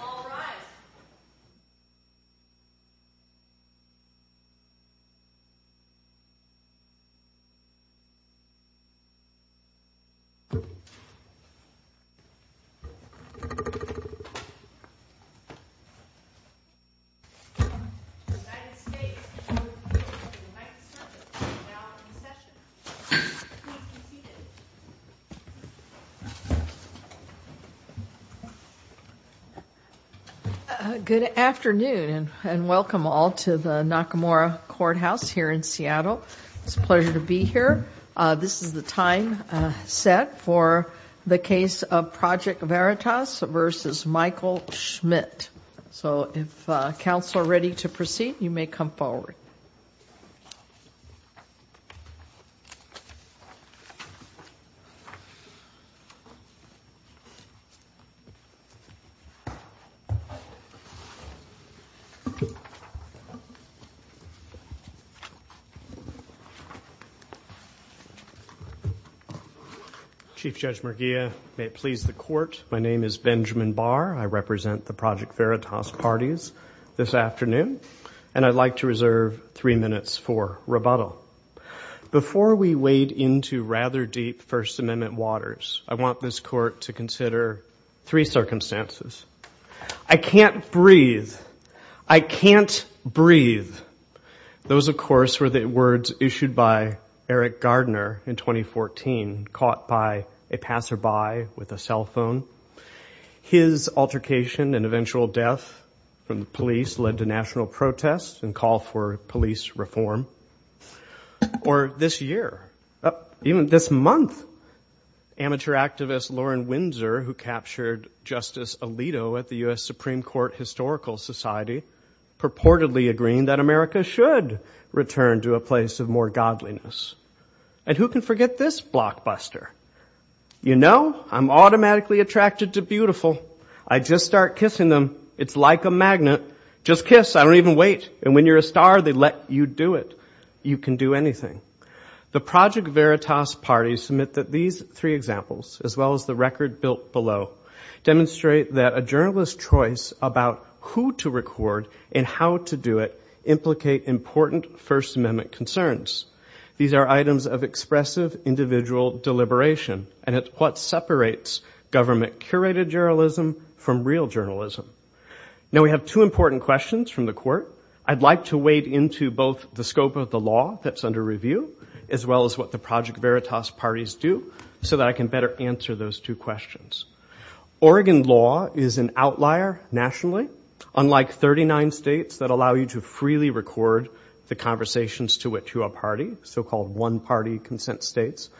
All rise. The United States Court of Appeals of the United States Circuit is now in session. Good afternoon and welcome all to the Nakamura Courthouse here in Seattle. It's a pleasure to be here. This is the time set for the case of Project Veritas v. Michael Schmidt. So if counsel are ready to proceed, you may come forward. Chief Judge Merguia, may it please the court, my name is Benjamin Barr. I represent the Project Veritas parties this afternoon. And I'd like to reserve three minutes for rebuttal. Before we wade into rather deep First Amendment waters, I want this court to consider three circumstances. I can't breathe. I can't breathe. Those, of course, were the words issued by Eric Gardner in 2014, caught by a passerby with a cell phone. His altercation and eventual death from the police led to national protest and call for police reform. Or this year, even this month, amateur activist Lauren Windsor, who captured Justice Alito at the U.S. Supreme Court Historical Society, purportedly agreeing that America should return to a place of more godliness. And who can forget this blockbuster? You know, I'm automatically attracted to beautiful. I just start kissing them, it's like a magnet. Just kiss, I don't even wait. And when you're a star, they let you do it. You can do anything. The Project Veritas parties submit that these three examples, as well as the record built below, demonstrate that a journalist's choice about who to record and how to do it implicate important First Amendment concerns. These are items of expressive individual deliberation, and it's what separates government-curated journalism from real journalism. Now, we have two important questions from the court. I'd like to wade into both the scope of the law that's under review, as well as what the Project Veritas parties do, so that I can better answer those two questions. Oregon law is an outlier nationally, unlike 39 states that allow you to freely record the conversations to a party, so-called one-party consent states,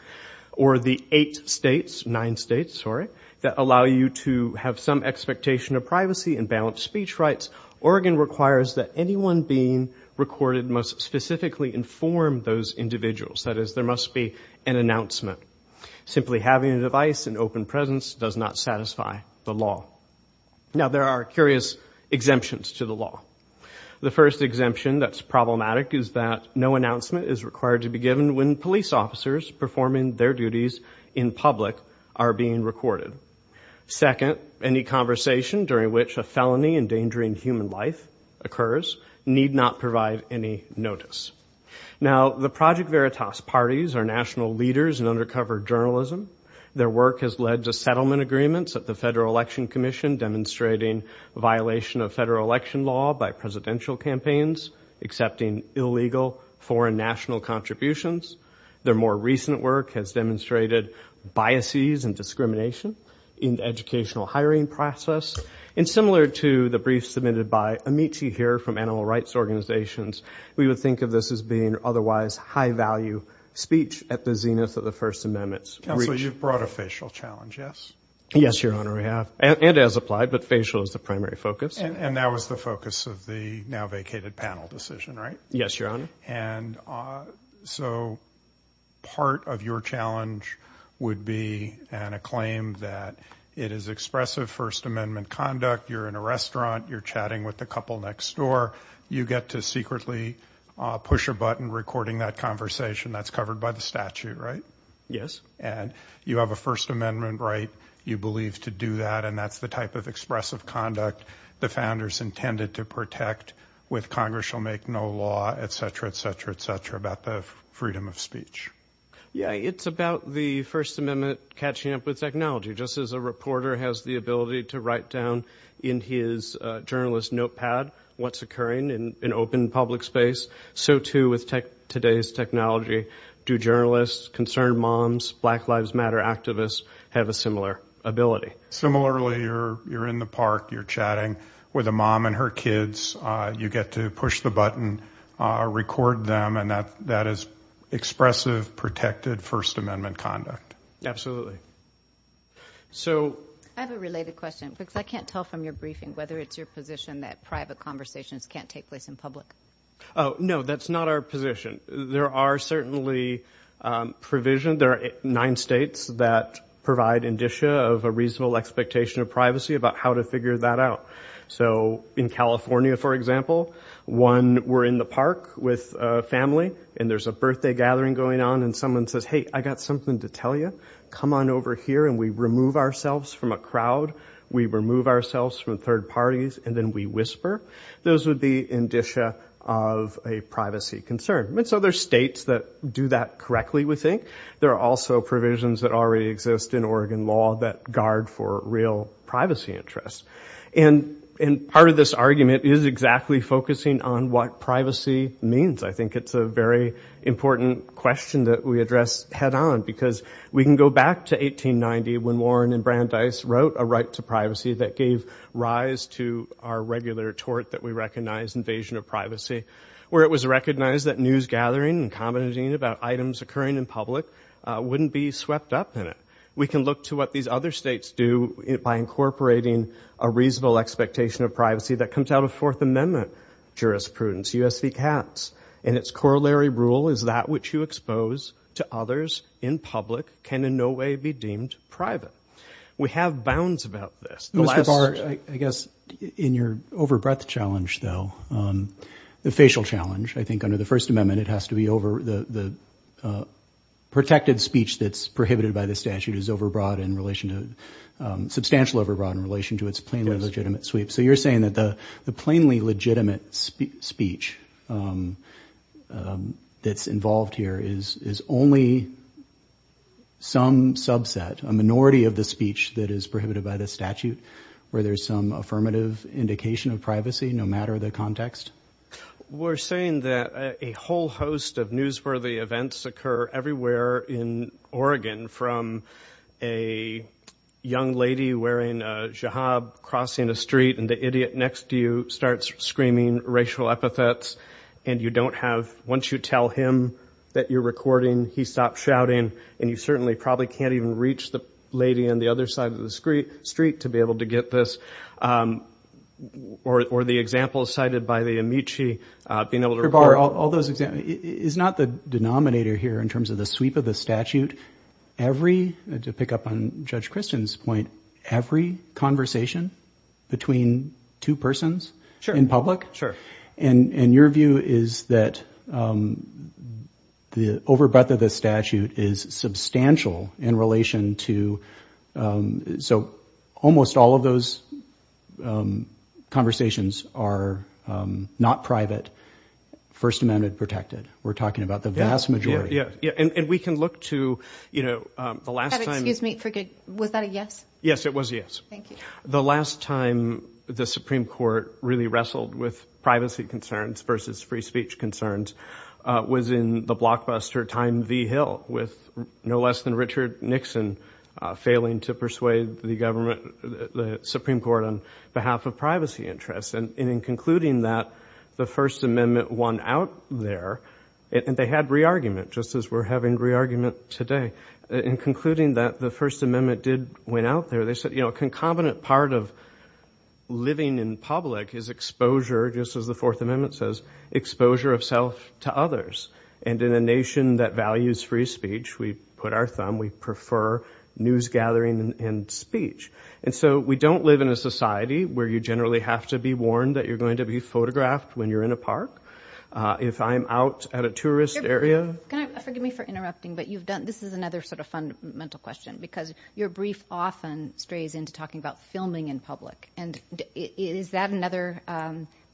or the eight states, nine states, sorry, that allow you to have some expectation of privacy and balanced speech rights. Oregon requires that anyone being recorded must specifically inform those individuals. That is, there must be an announcement. Simply having a device and open presence does not satisfy the law. Now, there are curious exemptions to the law. The first exemption that's problematic is that no announcement is required to be given when police officers performing their duties in public are being recorded. Second, any conversation during which a felony endangering human life occurs need not provide any notice. Now, the Project Veritas parties are national leaders in undercover journalism. Their work has led to settlement agreements at the Federal Election Commission demonstrating violation of federal election law by presidential campaigns, accepting illegal foreign national contributions. Their more recent work has demonstrated biases and discrimination in the educational hiring process. And similar to the briefs submitted by Amici here from animal rights organizations, we would think of this as being otherwise high-value speech at the zenith of the First Amendment. Counsel, you've brought a facial challenge, yes? Yes, Your Honor, we have. And as applied, but facial is the primary focus. And that was the focus of the now-vacated panel decision, right? Yes, Your Honor. And so part of your challenge would be a claim that it is expressive First Amendment conduct. You're in a restaurant. You're chatting with the couple next door. You get to secretly push a button recording that conversation. That's covered by the statute, right? Yes. And you have a First Amendment right, you believe, to do that, and that's the type of expressive conduct the founders intended to protect with Congress shall make no law, et cetera, et cetera, et cetera, about the freedom of speech. Yeah, it's about the First Amendment catching up with technology. Just as a reporter has the ability to write down in his journalist notepad what's occurring in open public space, so too with today's technology do journalists, concerned moms, Black Lives Matter activists have a similar ability. Similarly, you're in the park. You're chatting with a mom and her kids. You get to push the button, record them, and that is expressive, protected First Amendment conduct. I have a related question because I can't tell from your briefing whether it's your position that private conversations can't take place in public. No, that's not our position. There are certainly provision. There are nine states that provide indicia of a reasonable expectation of privacy about how to figure that out. So in California, for example, one, we're in the park with a family and there's a birthday gathering going on and someone says, hey, I got something to tell you. Come on over here and we remove ourselves from a crowd. We remove ourselves from third parties and then we whisper. Those would be indicia of a privacy concern. So there are states that do that correctly, we think. There are also provisions that already exist in Oregon law that guard for real privacy interests. And part of this argument is exactly focusing on what privacy means. I think it's a very important question that we address head on because we can go back to 1890 when Warren and Brandeis wrote a right to privacy that gave rise to our regular tort that we recognize, invasion of privacy, where it was recognized that news gathering and commenting about items occurring in public wouldn't be swept up in it. We can look to what these other states do by incorporating a reasonable expectation of privacy that comes out of Fourth Amendment jurisprudence, U.S.C. Caps, and its corollary rule is that which you expose to others in public can in no way be deemed private. We have bounds about this. Mr. Barr, I guess in your overbreadth challenge, though, the facial challenge, I think under the First Amendment, it has to be over the protected speech that's prohibited by the statute is overbroad in relation to, substantial overbroad in relation to its plainly legitimate sweep. So you're saying that the plainly legitimate speech that's involved here is only some subset, a minority of the speech that is prohibited by the statute, where there's some affirmative indication of privacy, no matter the context? We're saying that a whole host of newsworthy events occur everywhere in Oregon from a young lady wearing a jihab crossing a street and the idiot next to you starts screaming racial epithets and you don't have, once you tell him that you're recording, he stops shouting, and you certainly probably can't even reach the lady on the other side of the street to be able to get this, or the example cited by the Amici being able to record. Mr. Barr, all those examples, it's not the denominator here in terms of the sweep of the statute. Every, to pick up on Judge Christian's point, every conversation between two persons in public, and your view is that the overbirth of the statute is substantial in relation to, so almost all of those conversations are not private, First Amendment protected. We're talking about the vast majority. And we can look to the last time. Was that a yes? Yes, it was a yes. Thank you. The last time the Supreme Court really wrestled with privacy concerns versus free speech concerns was in the blockbuster Time V. Hill with no less than Richard Nixon failing to persuade the government, the Supreme Court, on behalf of privacy interests. And in concluding that the First Amendment won out there, and they had re-argument, just as we're having re-argument today. In concluding that the First Amendment did win out there, they said a concomitant part of living in public is exposure, just as the Fourth Amendment says, exposure of self to others. And in a nation that values free speech, we put our thumb, we prefer news gathering and speech. And so we don't live in a society where you generally have to be warned that you're going to be photographed when you're in a park. If I'm out at a tourist area. Can I, forgive me for interrupting, but you've done, this is another sort of fundamental question, because your brief often strays into talking about filming in public. And is that another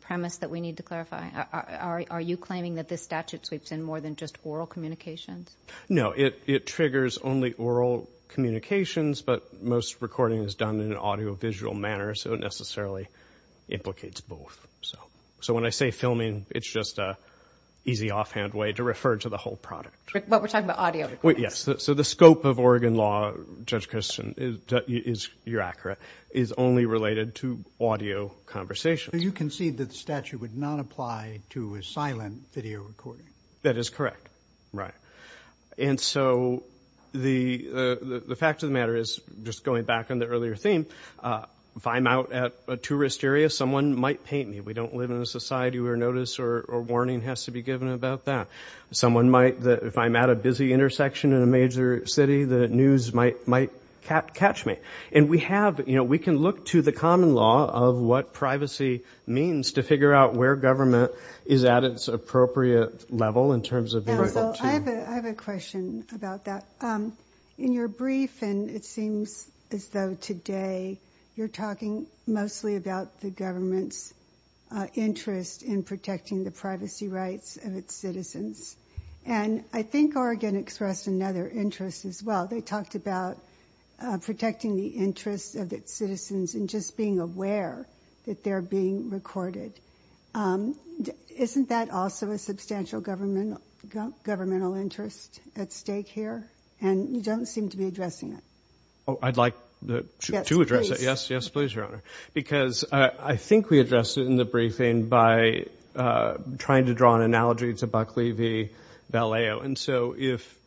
premise that we need to clarify? Are you claiming that this statute sweeps in more than just oral communications? No, it triggers only oral communications, but most recording is done in an audiovisual manner, so it necessarily implicates both. So when I say filming, it's just an easy offhand way to refer to the whole product. But we're talking about audio. Yes, so the scope of Oregon law, Judge Kirsten, you're accurate, is only related to audio conversations. You concede that the statute would not apply to a silent video recording. That is correct, right. And so the fact of the matter is, just going back on the earlier theme, if I'm out at a tourist area, someone might paint me. We don't live in a society where notice or warning has to be given about that. If I'm at a busy intersection in a major city, the news might catch me. And we can look to the common law of what privacy means to figure out where government is at its appropriate level in terms of being able to. I have a question about that. In your brief, and it seems as though today, you're talking mostly about the government's interest in protecting the privacy rights of its citizens. And I think Oregon expressed another interest as well. They talked about protecting the interests of its citizens and just being aware that they're being recorded. Isn't that also a substantial governmental interest at stake here? And you don't seem to be addressing it. Oh, I'd like to address it. Yes, please. Yes, yes, please, Your Honor. Because I think we addressed it in the briefing by trying to draw an analogy to Buckley v. Vallejo. And so if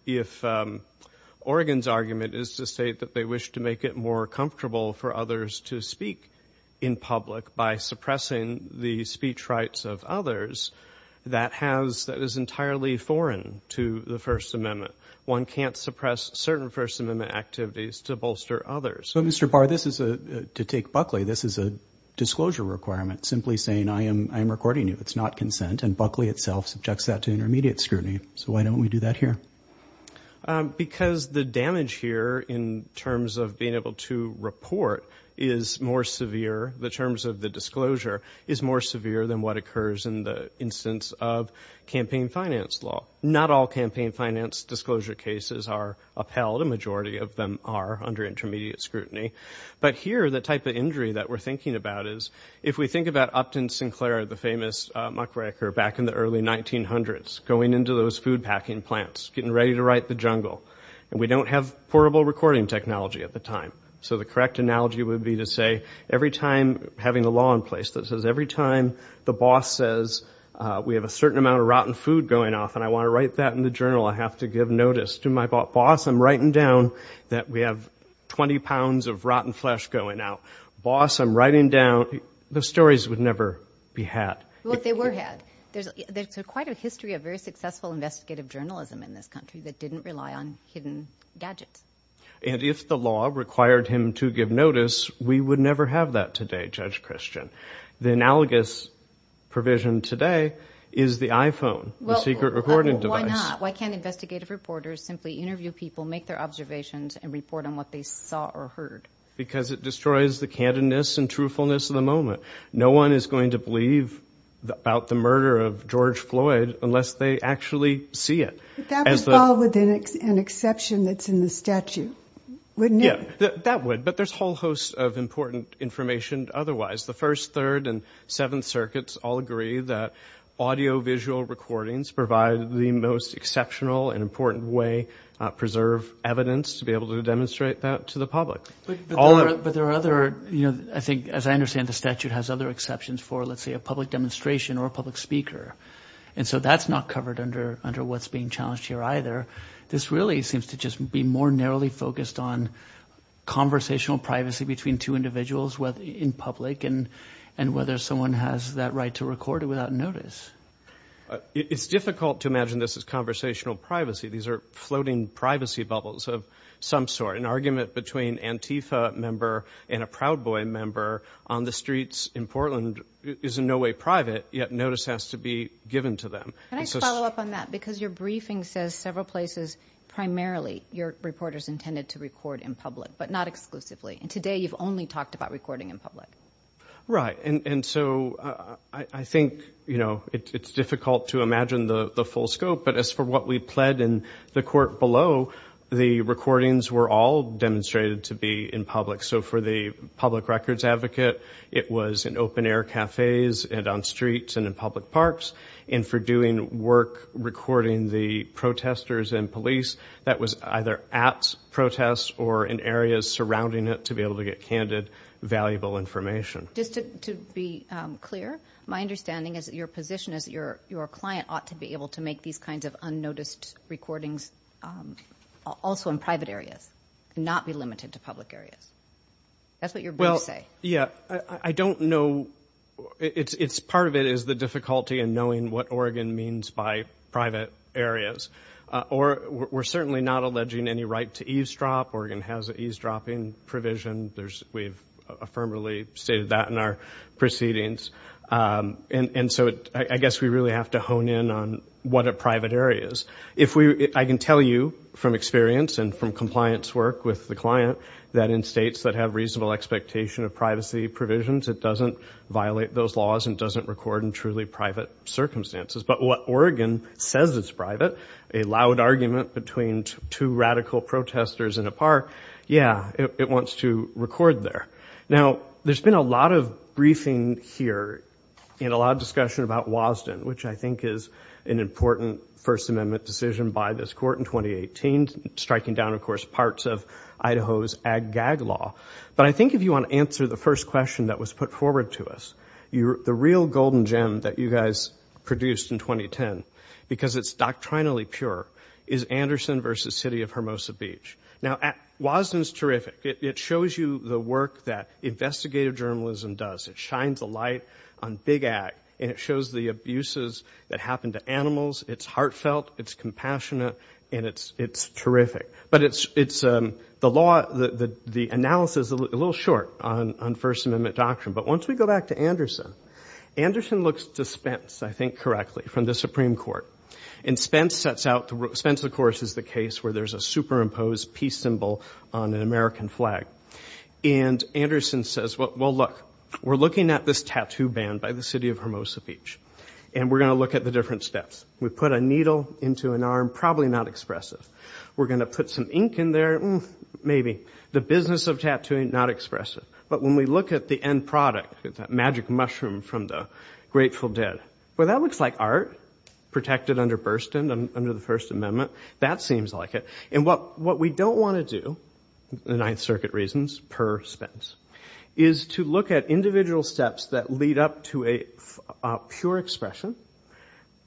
Oregon's argument is to state that they wish to make it more comfortable for others to speak in public by suppressing the speech rights of others, that is entirely foreign to the First Amendment. One can't suppress certain First Amendment activities to bolster others. So, Mr. Barr, to take Buckley, this is a disclosure requirement, simply saying I am recording you. It's not consent. And Buckley itself subjects that to intermediate scrutiny. So why don't we do that here? Because the damage here in terms of being able to report is more severe, the terms of the disclosure is more severe than what occurs in the instance of campaign finance law. Not all campaign finance disclosure cases are upheld. A majority of them are under intermediate scrutiny. But here the type of injury that we're thinking about is, if we think about Upton Sinclair, the famous muckracker, back in the early 1900s, going into those food packing plants, getting ready to right the jungle. And we don't have portable recording technology at the time. So the correct analogy would be to say every time having a law in place that says every time the boss says we have a certain amount of rotten food going off and I want to write that in the journal, I have to give notice to my boss, I'm writing down that we have 20 pounds of rotten flesh going out. Boss, I'm writing down, the stories would never be had. Well, they were had. There's quite a history of very successful investigative journalism in this country that didn't rely on hidden gadgets. And if the law required him to give notice, we would never have that today, Judge Christian. The analogous provision today is the iPhone, the secret recording device. Why not? Why can't investigative reporters simply interview people, make their observations, and report on what they saw or heard? Because it destroys the candidness and truthfulness of the moment. No one is going to believe about the murder of George Floyd unless they actually see it. That would fall within an exception that's in the statute, wouldn't it? Yeah, that would. But there's a whole host of important information otherwise. The First, Third, and Seventh Circuits all agree that audiovisual recordings provide the most exceptional and important way to preserve evidence to be able to demonstrate that to the public. But there are other, you know, I think, as I understand, the statute has other exceptions for, let's say, a public demonstration or a public speaker. And so that's not covered under what's being challenged here either. This really seems to just be more narrowly focused on conversational privacy between two individuals in public and whether someone has that right to record it without notice. It's difficult to imagine this as conversational privacy. These are floating privacy bubbles of some sort. An argument between an Antifa member and a Proud Boy member on the streets in Portland is in no way private, yet notice has to be given to them. Can I follow up on that? Because your briefing says several places, primarily, your reporters intended to record in public, but not exclusively. And today you've only talked about recording in public. Right. And so I think, you know, it's difficult to imagine the full scope. But as for what we pled in the court below, the recordings were all demonstrated to be in public. So for the public records advocate, it was in open-air cafes and on streets and in public parks. And for doing work recording the protesters and police, that was either at protests or in areas surrounding it to be able to get candid, valuable information. Just to be clear, my understanding is that your position is that your client ought to be able to make these kinds of unnoticed recordings also in private areas and not be limited to public areas. That's what your briefs say. Well, yeah. I don't know. Part of it is the difficulty in knowing what Oregon means by private areas. We're certainly not alleging any right to eavesdrop. Oregon has an eavesdropping provision. We've affirmatively stated that in our proceedings. And so I guess we really have to hone in on what a private area is. I can tell you from experience and from compliance work with the client that in states that have reasonable expectation of privacy provisions, it doesn't violate those laws and doesn't record in truly private circumstances. But what Oregon says is private, a loud argument between two radical protesters in a park, yeah, it wants to record there. Now, there's been a lot of briefing here and a lot of discussion about Wasden, which I think is an important First Amendment decision by this court in 2018, striking down, of course, parts of Idaho's ag-gag law. But I think if you want to answer the first question that was put forward to us, the real golden gem that you guys produced in 2010, because it's doctrinally pure, is Anderson v. City of Hermosa Beach. Now, Wasden's terrific. It shows you the work that investigative journalism does. It shines a light on big ag, and it shows the abuses that happen to animals. It's heartfelt, it's compassionate, and it's terrific. But the analysis is a little short on First Amendment doctrine. But once we go back to Anderson, Anderson looks to Spence, I think correctly, from the Supreme Court. And Spence, of course, is the case where there's a superimposed peace symbol on an American flag. And Anderson says, well, look, we're looking at this tattoo ban by the City of Hermosa Beach, and we're going to look at the different steps. We put a needle into an arm, probably not expressive. We're going to put some ink in there, maybe. The business of tattooing, not expressive. But when we look at the end product, that magic mushroom from the Grateful Dead, well, that looks like art, protected under Burstyn, under the First Amendment. That seems like it. And what we don't want to do, the Ninth Circuit reasons, per Spence, is to look at individual steps that lead up to a pure expression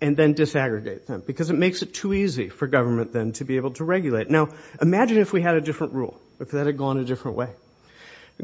and then disaggregate them, because it makes it too easy for government then to be able to regulate. Now, imagine if we had a different rule, if that had gone a different way.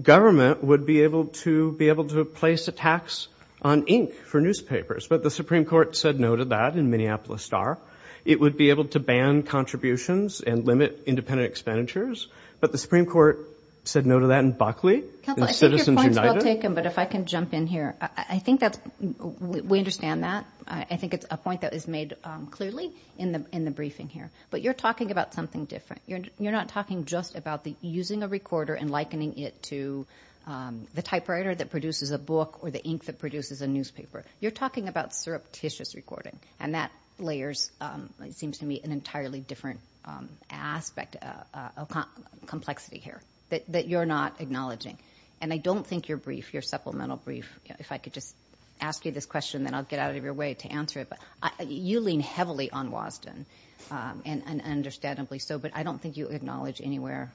Government would be able to place a tax on ink for newspapers, but the Supreme Court said no to that in Minneapolis Star. It would be able to ban contributions and limit independent expenditures, but the Supreme Court said no to that in Buckley, in Citizens United. I think your point's well taken, but if I can jump in here. I think that we understand that. I think it's a point that is made clearly in the briefing here. But you're talking about something different. You're not talking just about using a recorder and likening it to the typewriter that produces a book or the ink that produces a newspaper. You're talking about surreptitious recording, and that layers, it seems to me, an entirely different aspect of complexity here that you're not acknowledging. And I don't think your brief, your supplemental brief, if I could just ask you this question, then I'll get out of your way to answer it. You lean heavily on Wasden, and understandably so, but I don't think you acknowledge anywhere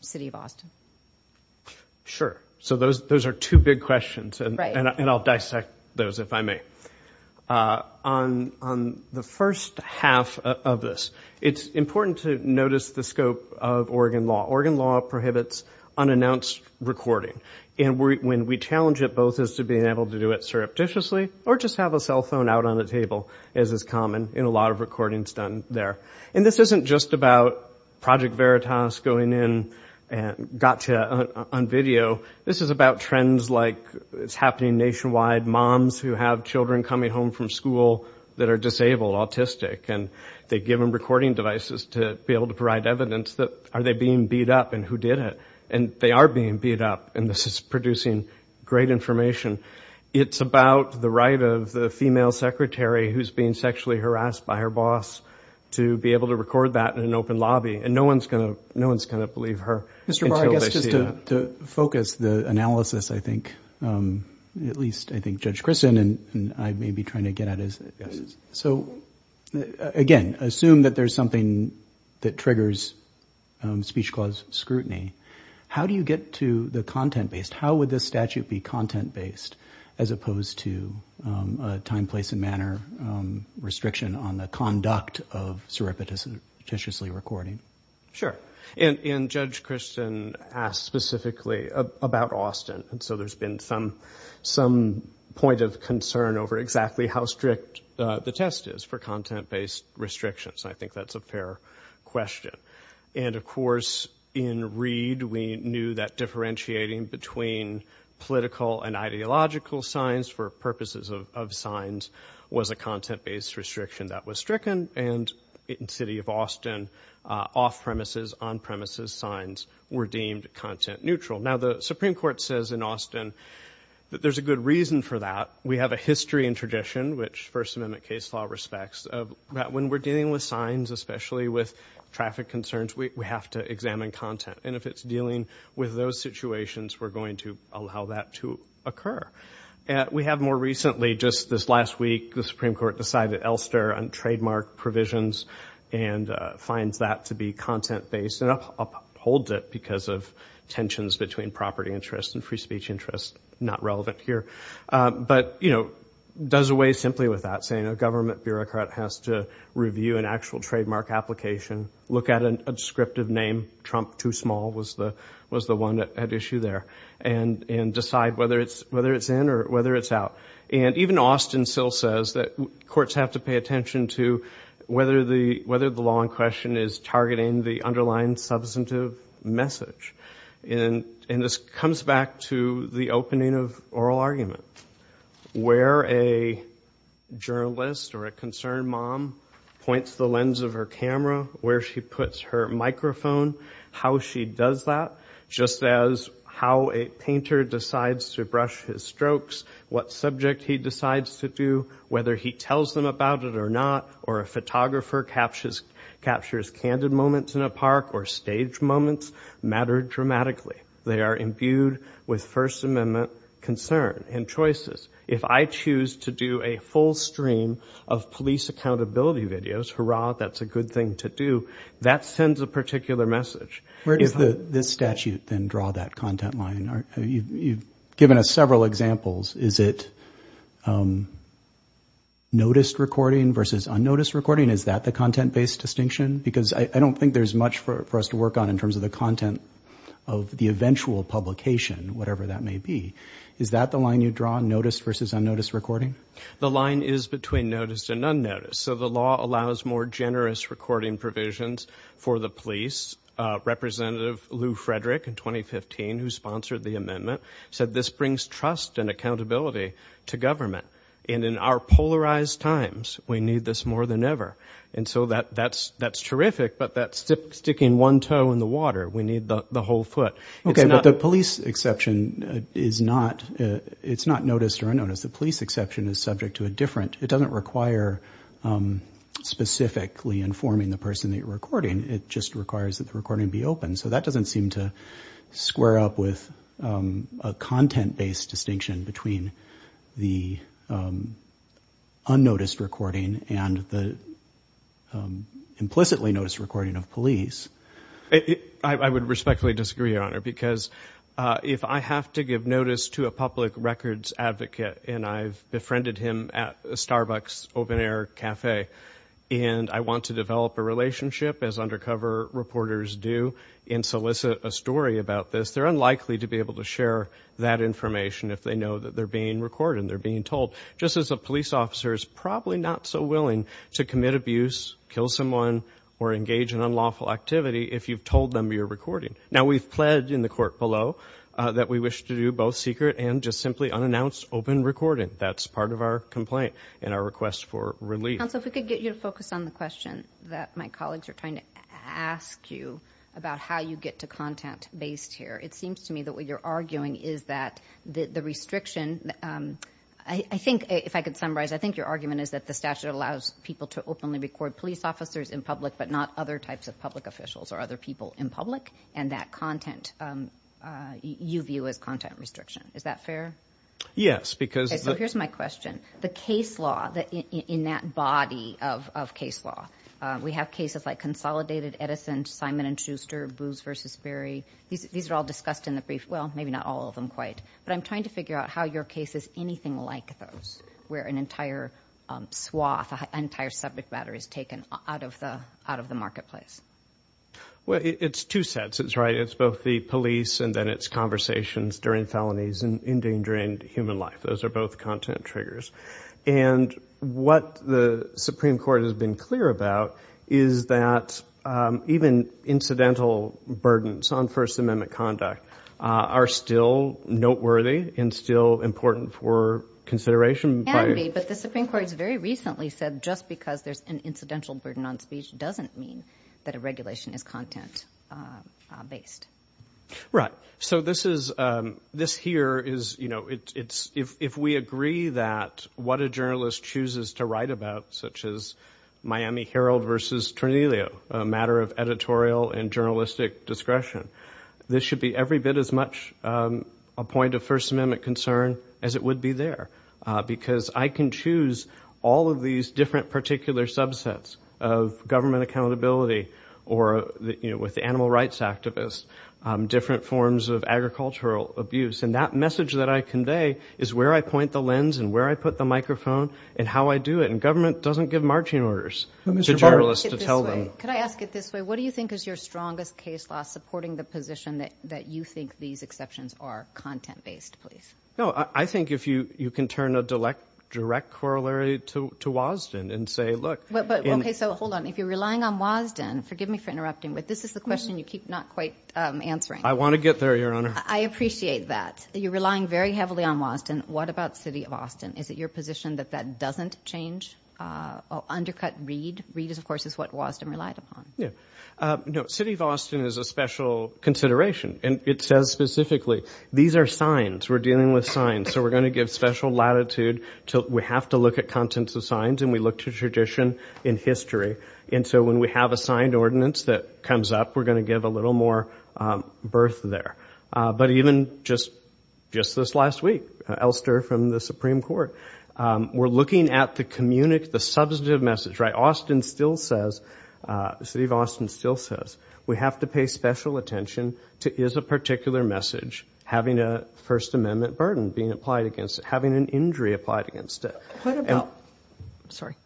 City of Austin. Sure. So those are two big questions, and I'll dissect those, if I may. On the first half of this, it's important to notice the scope of Oregon law. Oregon law prohibits unannounced recording. And when we challenge it both as to being able to do it surreptitiously or just have a cell phone out on a table, as is common in a lot of recordings done there. And this isn't just about Project Veritas going in and gotcha on video. This is about trends like it's happening nationwide, moms who have children coming home from school that are disabled, autistic, and they give them recording devices to be able to provide evidence that are they being beat up and who did it. And they are being beat up, and this is producing great information. It's about the right of the female secretary who's being sexually harassed by her boss to be able to record that in an open lobby, and no one's going to believe her until they see it. Mr. Barr, I guess just to focus the analysis, I think, at least I think Judge Christin and I may be trying to get at is, so again, assume that there's something that triggers speech clause scrutiny. How do you get to the content-based? How would this statute be content-based as opposed to a time, place, and manner restriction on the conduct of surreptitiously recording? Sure. And Judge Christin asked specifically about Austin, and so there's been some point of concern over exactly how strict the test is for content-based restrictions. I think that's a fair question. And, of course, in Reed, we knew that differentiating between political and ideological signs for purposes of signs was a content-based restriction that was stricken, and in the city of Austin, off-premises, on-premises signs were deemed content-neutral. Now, the Supreme Court says in Austin that there's a good reason for that. We have a history and tradition, which First Amendment case law respects, that when we're dealing with signs, especially with traffic concerns, we have to examine content. And if it's dealing with those situations, we're going to allow that to occur. We have more recently, just this last week, the Supreme Court decided Elster on trademark provisions and finds that to be content-based and upholds it because of tensions between property interests and free speech interests not relevant here. But, you know, does away simply with that, saying a government bureaucrat has to review an actual trademark application, look at a descriptive name, Trump Too Small was the one at issue there, and decide whether it's in or whether it's out. And even Austin still says that courts have to pay attention to whether the law in question is targeting the underlying substantive message. And this comes back to the opening of oral argument, where a journalist or a concerned mom points the lens of her camera, where she puts her microphone, how she does that, just as how a painter decides to brush his strokes, what subject he decides to do, whether he tells them about it or not, or a photographer captures candid moments in a park or stage moments matter dramatically. They are imbued with First Amendment concern and choices. If I choose to do a full stream of police accountability videos, hurrah, that's a good thing to do, that sends a particular message. Where does this statute then draw that content line? You've given us several examples. Is it noticed recording versus unnoticed recording? Is that the content-based distinction? Because I don't think there's much for us to work on in terms of the content of the eventual publication, whatever that may be. Is that the line you draw, noticed versus unnoticed recording? The line is between noticed and unnoticed. So the law allows more generous recording provisions for the police. Representative Lou Frederick in 2015, who sponsored the amendment, said this brings trust and accountability to government. And in our polarized times, we need this more than ever. And so that's terrific, but that's sticking one toe in the water. We need the whole foot. Okay, but the police exception is not noticed or unnoticed. The police exception is subject to a different, it doesn't require specifically informing the person that you're recording. It just requires that the recording be open. So that doesn't seem to square up with a content-based distinction between the unnoticed recording and the implicitly noticed recording of police. I would respectfully disagree, Your Honor, because if I have to give notice to a public records advocate, and I've befriended him at a Starbucks open-air cafe, and I want to develop a relationship, as undercover reporters do, and solicit a story about this, they're unlikely to be able to share that information if they know that they're being recorded and they're being told, just as a police officer is probably not so willing to commit abuse, kill someone, or engage in unlawful activity if you've told them you're recording. Now, we've pledged in the court below that we wish to do both secret and just simply unannounced open recording. That's part of our complaint and our request for relief. Counsel, if we could get you to focus on the question that my colleagues are trying to ask you about how you get to content-based here. It seems to me that what you're arguing is that the restriction... I think, if I could summarize, I think your argument is that the statute allows people to openly record police officers in public but not other types of public officials or other people in public, and that content you view as content restriction. Is that fair? Yes, because... Okay, so here's my question. The case law in that body of case law, we have cases like Consolidated, Edison, Simon & Schuster, Boos v. Berry. These are all discussed in the brief. Well, maybe not all of them quite. But I'm trying to figure out how your case is anything like those, where an entire swath, an entire subject matter is taken out of the marketplace. Well, it's two sets. It's both the police and then it's conversations during felonies and endangering human life. Those are both content triggers. And what the Supreme Court has been clear about is that even incidental burdens on First Amendment conduct are still noteworthy and still important for consideration. But the Supreme Court has very recently said just because there's an incidental burden on speech doesn't mean that a regulation is content-based. Right. So this here is, you know, if we agree that what a journalist chooses to write about, such as Miami Herald v. Tornilio, a matter of editorial and journalistic discretion, this should be every bit as much a point of First Amendment concern as it would be there. Because I can choose all of these different particular subsets of government accountability or, you know, with animal rights activists, different forms of agricultural abuse, and that message that I convey is where I point the lens and where I put the microphone and how I do it. And government doesn't give marching orders to journalists to tell them. Could I ask it this way? What do you think is your strongest case law supporting the position that you think these exceptions are content-based? No, I think if you can turn a direct corollary to Wasden and say, look. Okay, so hold on. If you're relying on Wasden, forgive me for interrupting, but this is the question you keep not quite answering. I want to get there, Your Honor. I appreciate that. You're relying very heavily on Wasden. What about the city of Austin? Is it your position that that doesn't change, undercut Reed? Reed, of course, is what Wasden relied upon. Yeah. No, city of Austin is a special consideration. And it says specifically, these are signs. We're dealing with signs. So we're going to give special latitude. We have to look at contents of signs, and we look to tradition in history. And so when we have a signed ordinance that comes up, we're going to give a little more birth there. But even just this last week, Elster from the Supreme Court, we're looking at the communicative, the substantive message. Austin still says, the city of Austin still says, we have to pay special attention to is a particular message having a First Amendment burden being applied against it, having an injury applied against it. What about, sorry.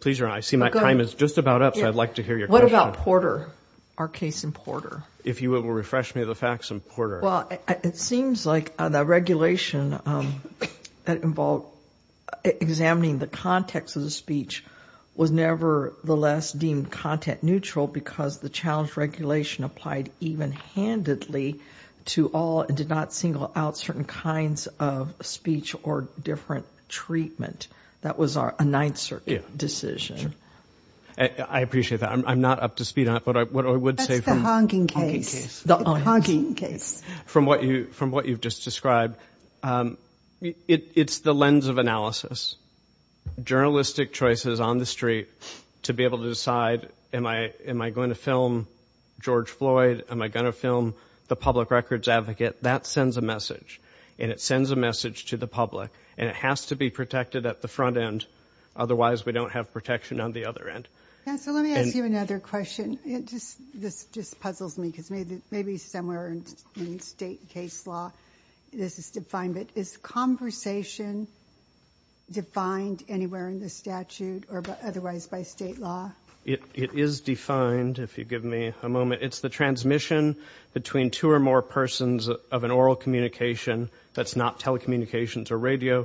Please, Your Honor, I see my time is just about up, so I'd like to hear your question. What about Porter, our case in Porter? If you will refresh me of the facts in Porter. Well, it seems like the regulation that involved examining the context of the speech was nevertheless deemed content neutral because the challenge regulation applied even-handedly to all and did not single out certain kinds of speech or different treatment. That was a Ninth Circuit decision. I appreciate that. I'm not up to speed on it. That's the honking case. From what you've just described, it's the lens of analysis. Journalistic choices on the street to be able to decide, am I going to film George Floyd? Am I going to film the public records advocate? That sends a message, and it sends a message to the public, and it has to be protected at the front end. Otherwise, we don't have protection on the other end. Let me ask you another question. This just puzzles me because maybe somewhere in state case law, this is defined, but is conversation defined anywhere in the statute or otherwise by state law? It is defined, if you give me a moment. It's the transmission between two or more persons of an oral communication. That's not telecommunications or radio.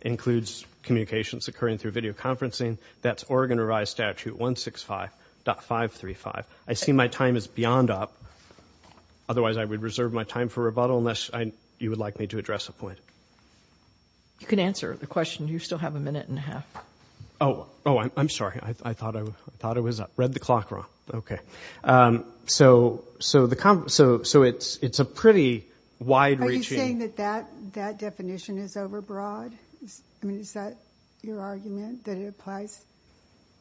It includes communications occurring through videoconferencing. That's Oregon Revised Statute 165.535. I see my time is beyond up. Otherwise, I would reserve my time for rebuttal unless you would like me to address a point. You can answer the question. You still have a minute and a half. Oh, I'm sorry. I thought I read the clock wrong. So it's a pretty wide-reaching. Are you saying that that definition is overbroad? I mean, is that your argument, that it applies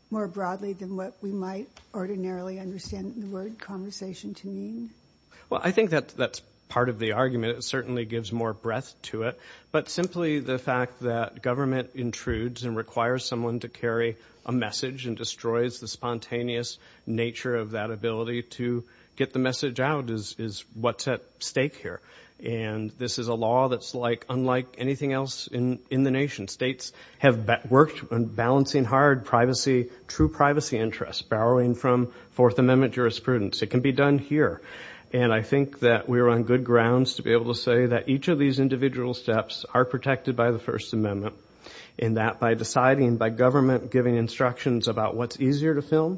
more broadly than what we might ordinarily understand the word conversation to mean? Well, I think that that's part of the argument. It certainly gives more breadth to it. But simply the fact that government intrudes and requires someone to carry a message and destroys the spontaneous nature of that ability to get the message out is what's at stake here. And this is a law that's unlike anything else in the nation. States have worked on balancing hard privacy, true privacy interests, borrowing from Fourth Amendment jurisprudence. It can be done here. And I think that we're on good grounds to be able to say that each of these individual steps are protected by the First Amendment, and that by deciding, by government giving instructions about what's easier to film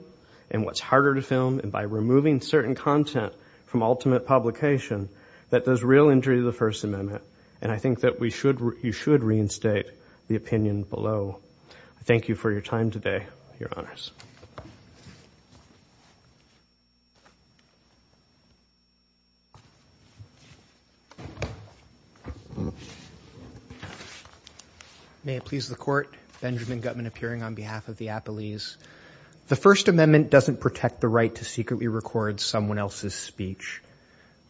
and what's harder to film, and by removing certain content from ultimate publication, that does real injury to the First Amendment. And I think that you should reinstate the opinion below. I thank you for your time today, Your Honors. May it please the Court. Benjamin Gutmann appearing on behalf of the Appellees. The First Amendment doesn't protect the right to secretly record someone else's speech.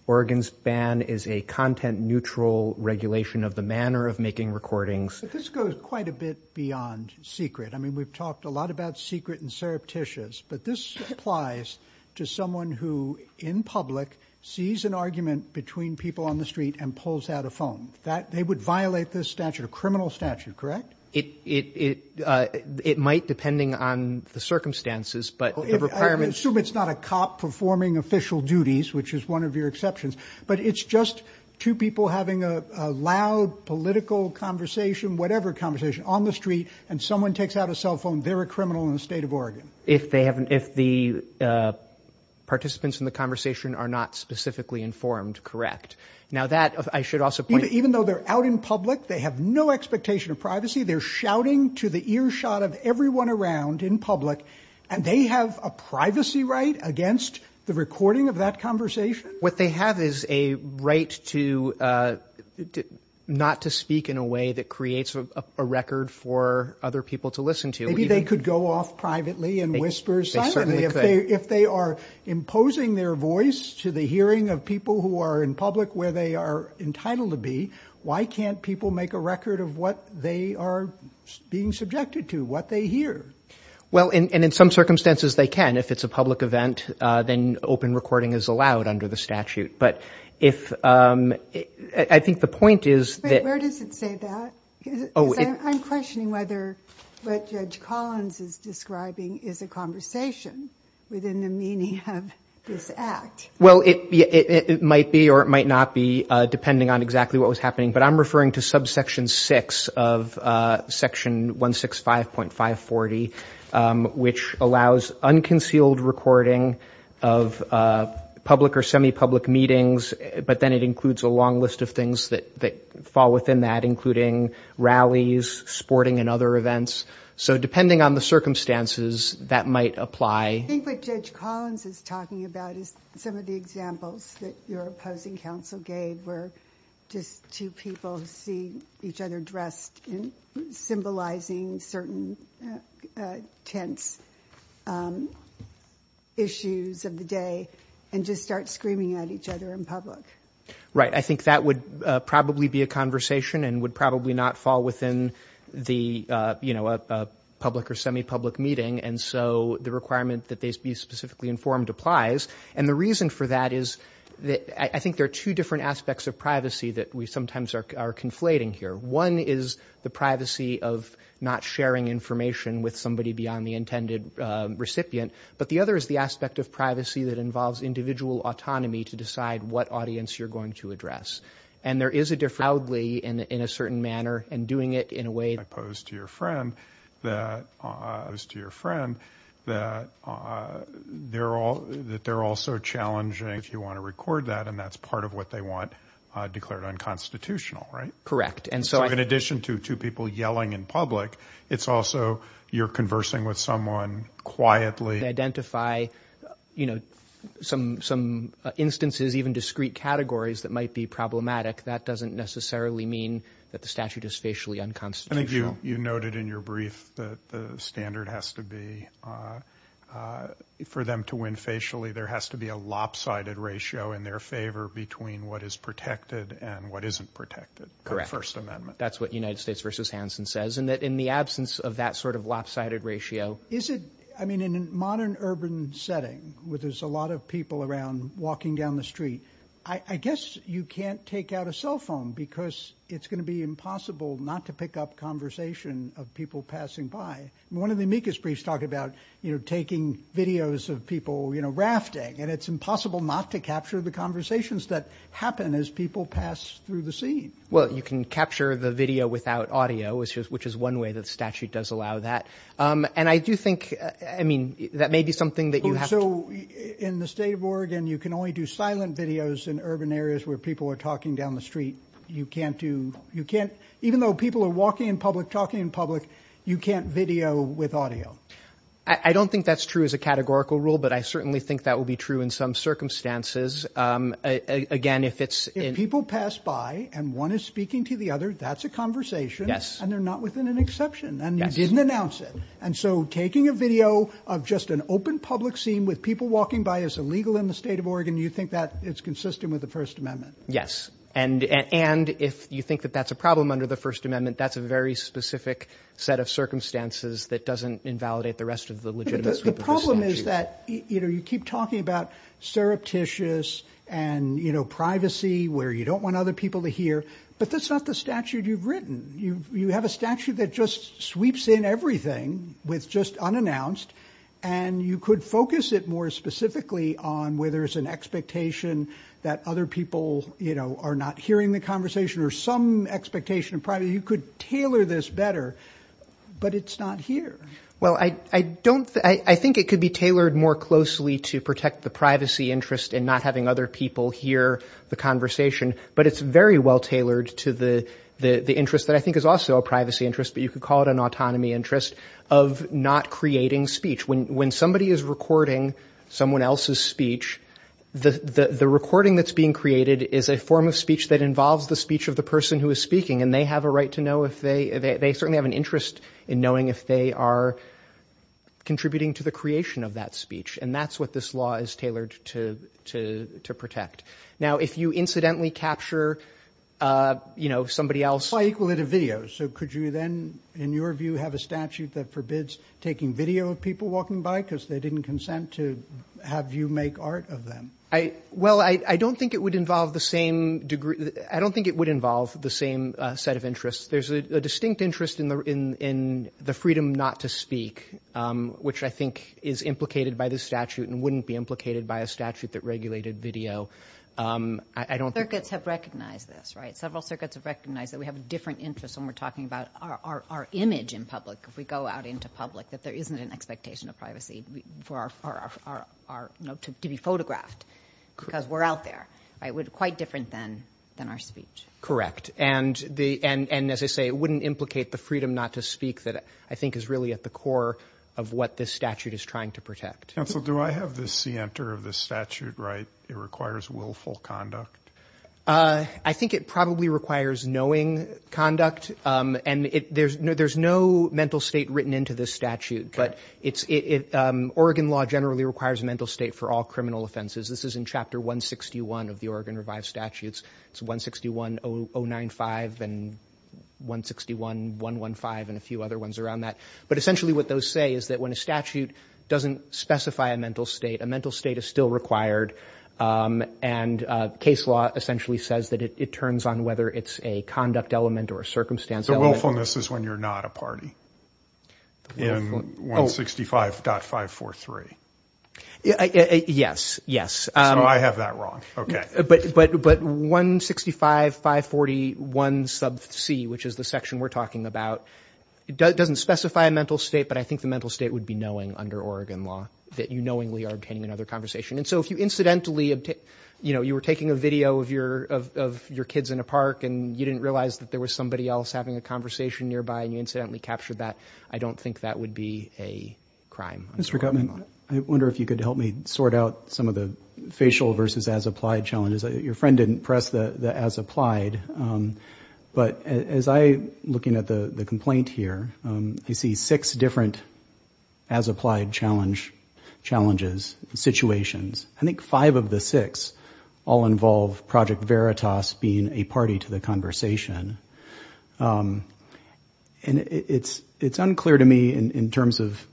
Oregon's ban is a content-neutral regulation of the manner of making recordings. But this goes quite a bit beyond secret. I mean, we've talked a lot about secret and surreptitious, but this applies to someone who, in public, sees an argument between people on the street and pulls out a phone. They would violate this statute, a criminal statute, correct? It might, depending on the circumstances. I assume it's not a cop performing official duties, which is one of your exceptions, but it's just two people having a loud political conversation, whatever conversation, on the street, and someone takes out a cell phone. They're a criminal in the state of Oregon. If the participants in the conversation are not specifically informed, correct. Now that, I should also point out... Even though they're out in public, they have no expectation of privacy. They're shouting to the earshot of everyone around in public, and they have a privacy right against the recording of that conversation? What they have is a right to not to speak in a way that creates a record for other people to listen to. Maybe they could go off privately and whisper silently. They certainly could. If they are imposing their voice to the hearing of people who are in public where they are entitled to be, why can't people make a record of what they are being subjected to, what they hear? Well, and in some circumstances they can. If it's a public event, then open recording is allowed under the statute. But if... I think the point is that... But where does it say that? I'm questioning whether what Judge Collins is describing is a conversation within the meaning of this act. Well, it might be or it might not be, depending on exactly what was happening, but I'm referring to subsection 6 of section 165.540, which allows unconcealed recording of public or semi-public meetings, but then it includes a long list of things that fall within that, including rallies, sporting, and other events. So depending on the circumstances, that might apply. I think what Judge Collins is talking about is some of the examples that your opposing counsel gave were just two people who see each other dressed in symbolizing certain tense issues of the day and just start screaming at each other in public. Right, I think that would probably be a conversation and would probably not fall within the, you know, a public or semi-public meeting, and so the requirement that they be specifically informed applies. And the reason for that is that I think there are two different aspects of privacy that we sometimes are conflating here. One is the privacy of not sharing information with somebody beyond the intended recipient, but the other is the aspect of privacy that involves individual autonomy to decide what audience you're going to address. And there is a difference. ...proudly in a certain manner and doing it in a way... ...opposed to your friend that... ...opposed to your friend that... ...that they're also challenging if you want to record that, and that's part of what they want declared unconstitutional, right? Correct, and so... So in addition to two people yelling in public, it's also you're conversing with someone quietly... ...identify, you know, some instances, even discrete categories that might be problematic. That doesn't necessarily mean that the statute is facially unconstitutional. I think you noted in your brief that the standard has to be for them to win facially. There has to be a lopsided ratio in their favor between what is protected and what isn't protected. Correct. The First Amendment. That's what United States v. Hansen says, and that in the absence of that sort of lopsided ratio... Is it, I mean, in a modern urban setting where there's a lot of people around walking down the street, I guess you can't take out a cell phone because it's going to be impossible not to pick up conversation of people passing by. One of the amicus briefs talked about, you know, taking videos of people, you know, rafting, and it's impossible not to capture the conversations that happen as people pass through the scene. Well, you can capture the video without audio, which is one way that the statute does allow that. And I do think, I mean, that may be something that you have to... So in the state of Oregon, you can only do silent videos in urban areas where people are talking down the street. You can't do... You can't... Even though people are walking in public, talking in public, you can't video with audio. I don't think that's true as a categorical rule, but I certainly think that will be true in some circumstances. Again, if it's... If people pass by and one is speaking to the other, that's a conversation. Yes. And they're not within an exception, and you didn't announce it. And so taking a video of just an open public scene with people walking by is illegal in the state of Oregon. You think that it's consistent with the First Amendment? Yes. And if you think that that's a problem under the First Amendment, that's a very specific set of circumstances that doesn't invalidate the rest of the legitimate... The problem is that, you know, you keep talking about surreptitious and, you know, privacy where you don't want other people to hear, but that's not the statute you've written. You have a statute that just sweeps in everything with just unannounced, and you could focus it more specifically on where there's an expectation that other people, you know, are not hearing the conversation or some expectation of privacy. You could tailor this better, but it's not here. Well, I don't... I think it could be tailored more closely to protect the privacy interest in not having other people hear the conversation, but it's very well tailored to the interest that I think is also a privacy interest, but you could call it an autonomy interest, of not creating speech. When somebody is recording someone else's speech, the recording that's being created is a form of speech that involves the speech of the person who is speaking, and they have a right to know if they... They certainly have an interest in knowing if they are contributing to the creation of that speech, and that's what this law is tailored to protect. Now, if you incidentally capture, you know, somebody else... Why equal it to video? So could you then, in your view, have a statute that forbids taking video of people walking by because they didn't consent to have you make art of them? Well, I don't think it would involve the same degree... I don't think it would involve the same set of interests. There's a distinct interest in the freedom not to speak, which I think is implicated by this statute and wouldn't be implicated by a statute that regulated video. I don't... Circuits have recognized this, right? Several circuits have recognized that we have different interests when we're talking about our image in public, if we go out into public, that there isn't an expectation of privacy for our... to be photographed, because we're out there. Right? Quite different than our speech. Correct. And as I say, it wouldn't implicate the freedom not to speak that I think is really at the core of what this statute is trying to protect. Counsel, do I have the scienter of this statute right? It requires willful conduct? I think it probably requires knowing conduct, and there's no mental state written into this statute, but it's... Oregon law generally requires mental state for all criminal offenses. This is in Chapter 161 of the Oregon Revived Statutes. It's 161.095 and 161.115 and a few other ones around that. But essentially what those say is that when a statute doesn't specify a mental state, a mental state is still required, and case law essentially says that it turns on whether it's a conduct element or a circumstance element. The willfulness is when you're not a party in 165.543. Yes, yes. So I have that wrong. But 165.541c, which is the section we're talking about, doesn't specify a mental state, but I think the mental state would be knowing under Oregon law that you knowingly are obtaining another conversation. And so if you incidentally... You know, you were taking a video of your kids in a park and you didn't realize that there was somebody else having a conversation nearby and you incidentally captured that, I don't think that would be a crime under Oregon law. Mr. Gutman, I wonder if you could help me sort out some of the facial versus as-applied challenges. Your friend didn't press the as-applied, but as I'm looking at the complaint here, I see six different as-applied challenges, situations. I think five of the six all involve Project Veritas being a party to the conversation. And it's unclear to me in terms of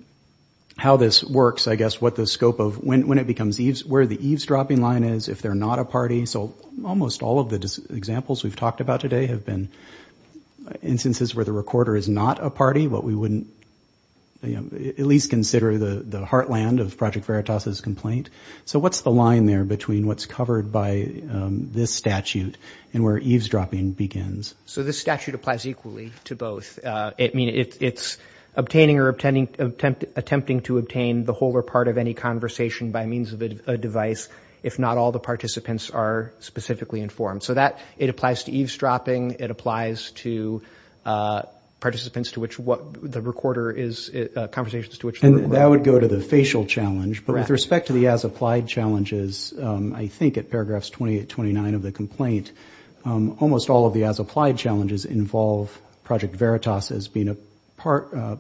how this works, I guess, what the scope of... When it becomes... Where the eavesdropping line is, if they're not a party. So almost all of the examples we've talked about today have been instances where the recorder is not a party, but we wouldn't, you know, at least consider the heartland of Project Veritas' complaint. So what's the line there between what's covered by this statute and where eavesdropping begins? So this statute applies equally to both. I mean, it's obtaining or attempting to obtain the whole or part of any conversation by means of a device if not all the participants are specifically informed. So that, it applies to eavesdropping, it applies to participants to which the recorder is... conversations to which the recorder... And that would go to the facial challenge. But with respect to the as-applied challenges, I think at paragraphs 28, 29 of the complaint, almost all of the as-applied challenges involve Project Veritas as being a part... a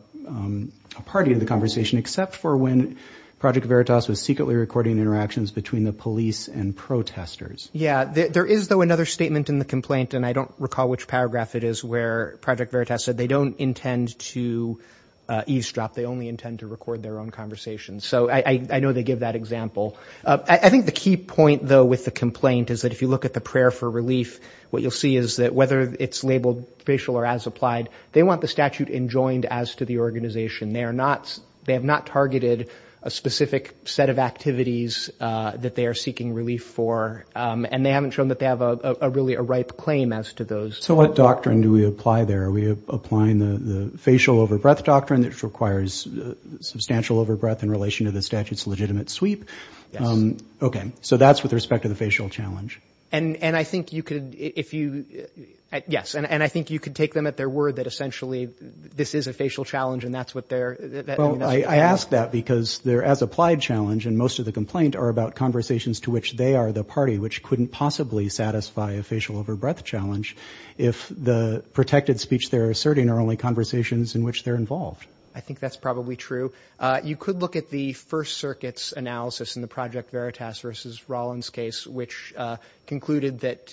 party to the conversation, except for when Project Veritas was secretly recording interactions between the police and protesters. Yeah, there is, though, another statement in the complaint, and I don't recall which paragraph it is, where Project Veritas said they don't intend to eavesdrop, they only intend to record their own conversations. So I know they give that example. I think the key point, though, with the complaint is that if you look at the prayer for relief, what you'll see is that whether it's labeled facial or as-applied, they want the statute enjoined as to the organization. They are not... They have not targeted a specific set of activities that they are seeking relief for, and they haven't shown that they have a really... a ripe claim as to those. So what doctrine do we apply there? Are we applying the facial over-breath doctrine, which requires substantial over-breath in relation to the statute's legitimate sweep? OK, so that's with respect to the facial challenge. And I think you could, if you... Yes, and I think you could take them at their word that essentially this is a facial challenge and that's what they're... Well, I ask that because their as-applied challenge in most of the complaint are about conversations to which they are the party, which couldn't possibly satisfy a facial over-breath challenge if the protected speech they're asserting are only conversations in which they're involved. I think that's probably true. You could look at the First Circuit's analysis in the Project Veritas v. Rollins case, which concluded that...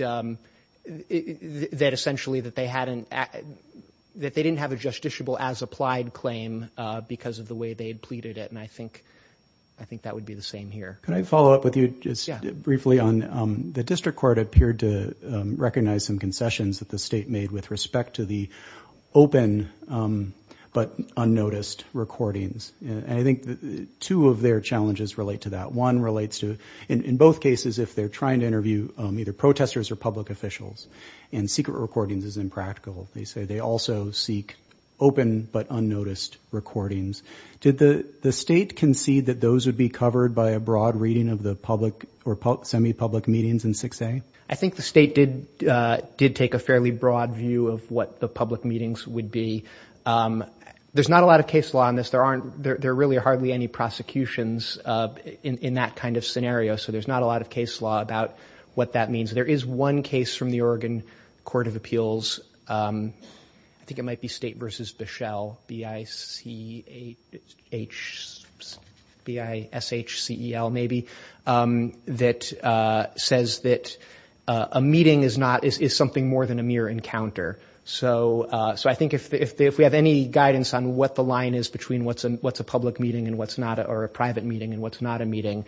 that essentially that they hadn't... that they didn't have a justiciable as-applied claim because of the way they had pleaded it, and I think... I think that would be the same here. Can I follow up with you just briefly on... The district court appeared to recognize some concessions that the state made with respect to the open but unnoticed recordings, and I think two of their challenges relate to that. One relates to... In both cases, if they're trying to interview either protesters or public officials and secret recordings is impractical, they say they also seek open but unnoticed recordings. Did the state concede that those would be covered by a broad reading of the public or semi-public meetings in 6A? I think the state did... did take a fairly broad view of what the public meetings would be. There's not a lot of case law on this. There aren't... there are really hardly any prosecutions in that kind of scenario, so there's not a lot of case law about what that means. There is one case from the Oregon Court of Appeals, I think it might be State v. Bischel, B-I-C-H... B-I-S-H-C-E-L, maybe, that says that a meeting is not... is something more than a mere encounter. So I think if we have any guidance on what the line is between what's a public meeting and what's not, or a private meeting and what's not a meeting,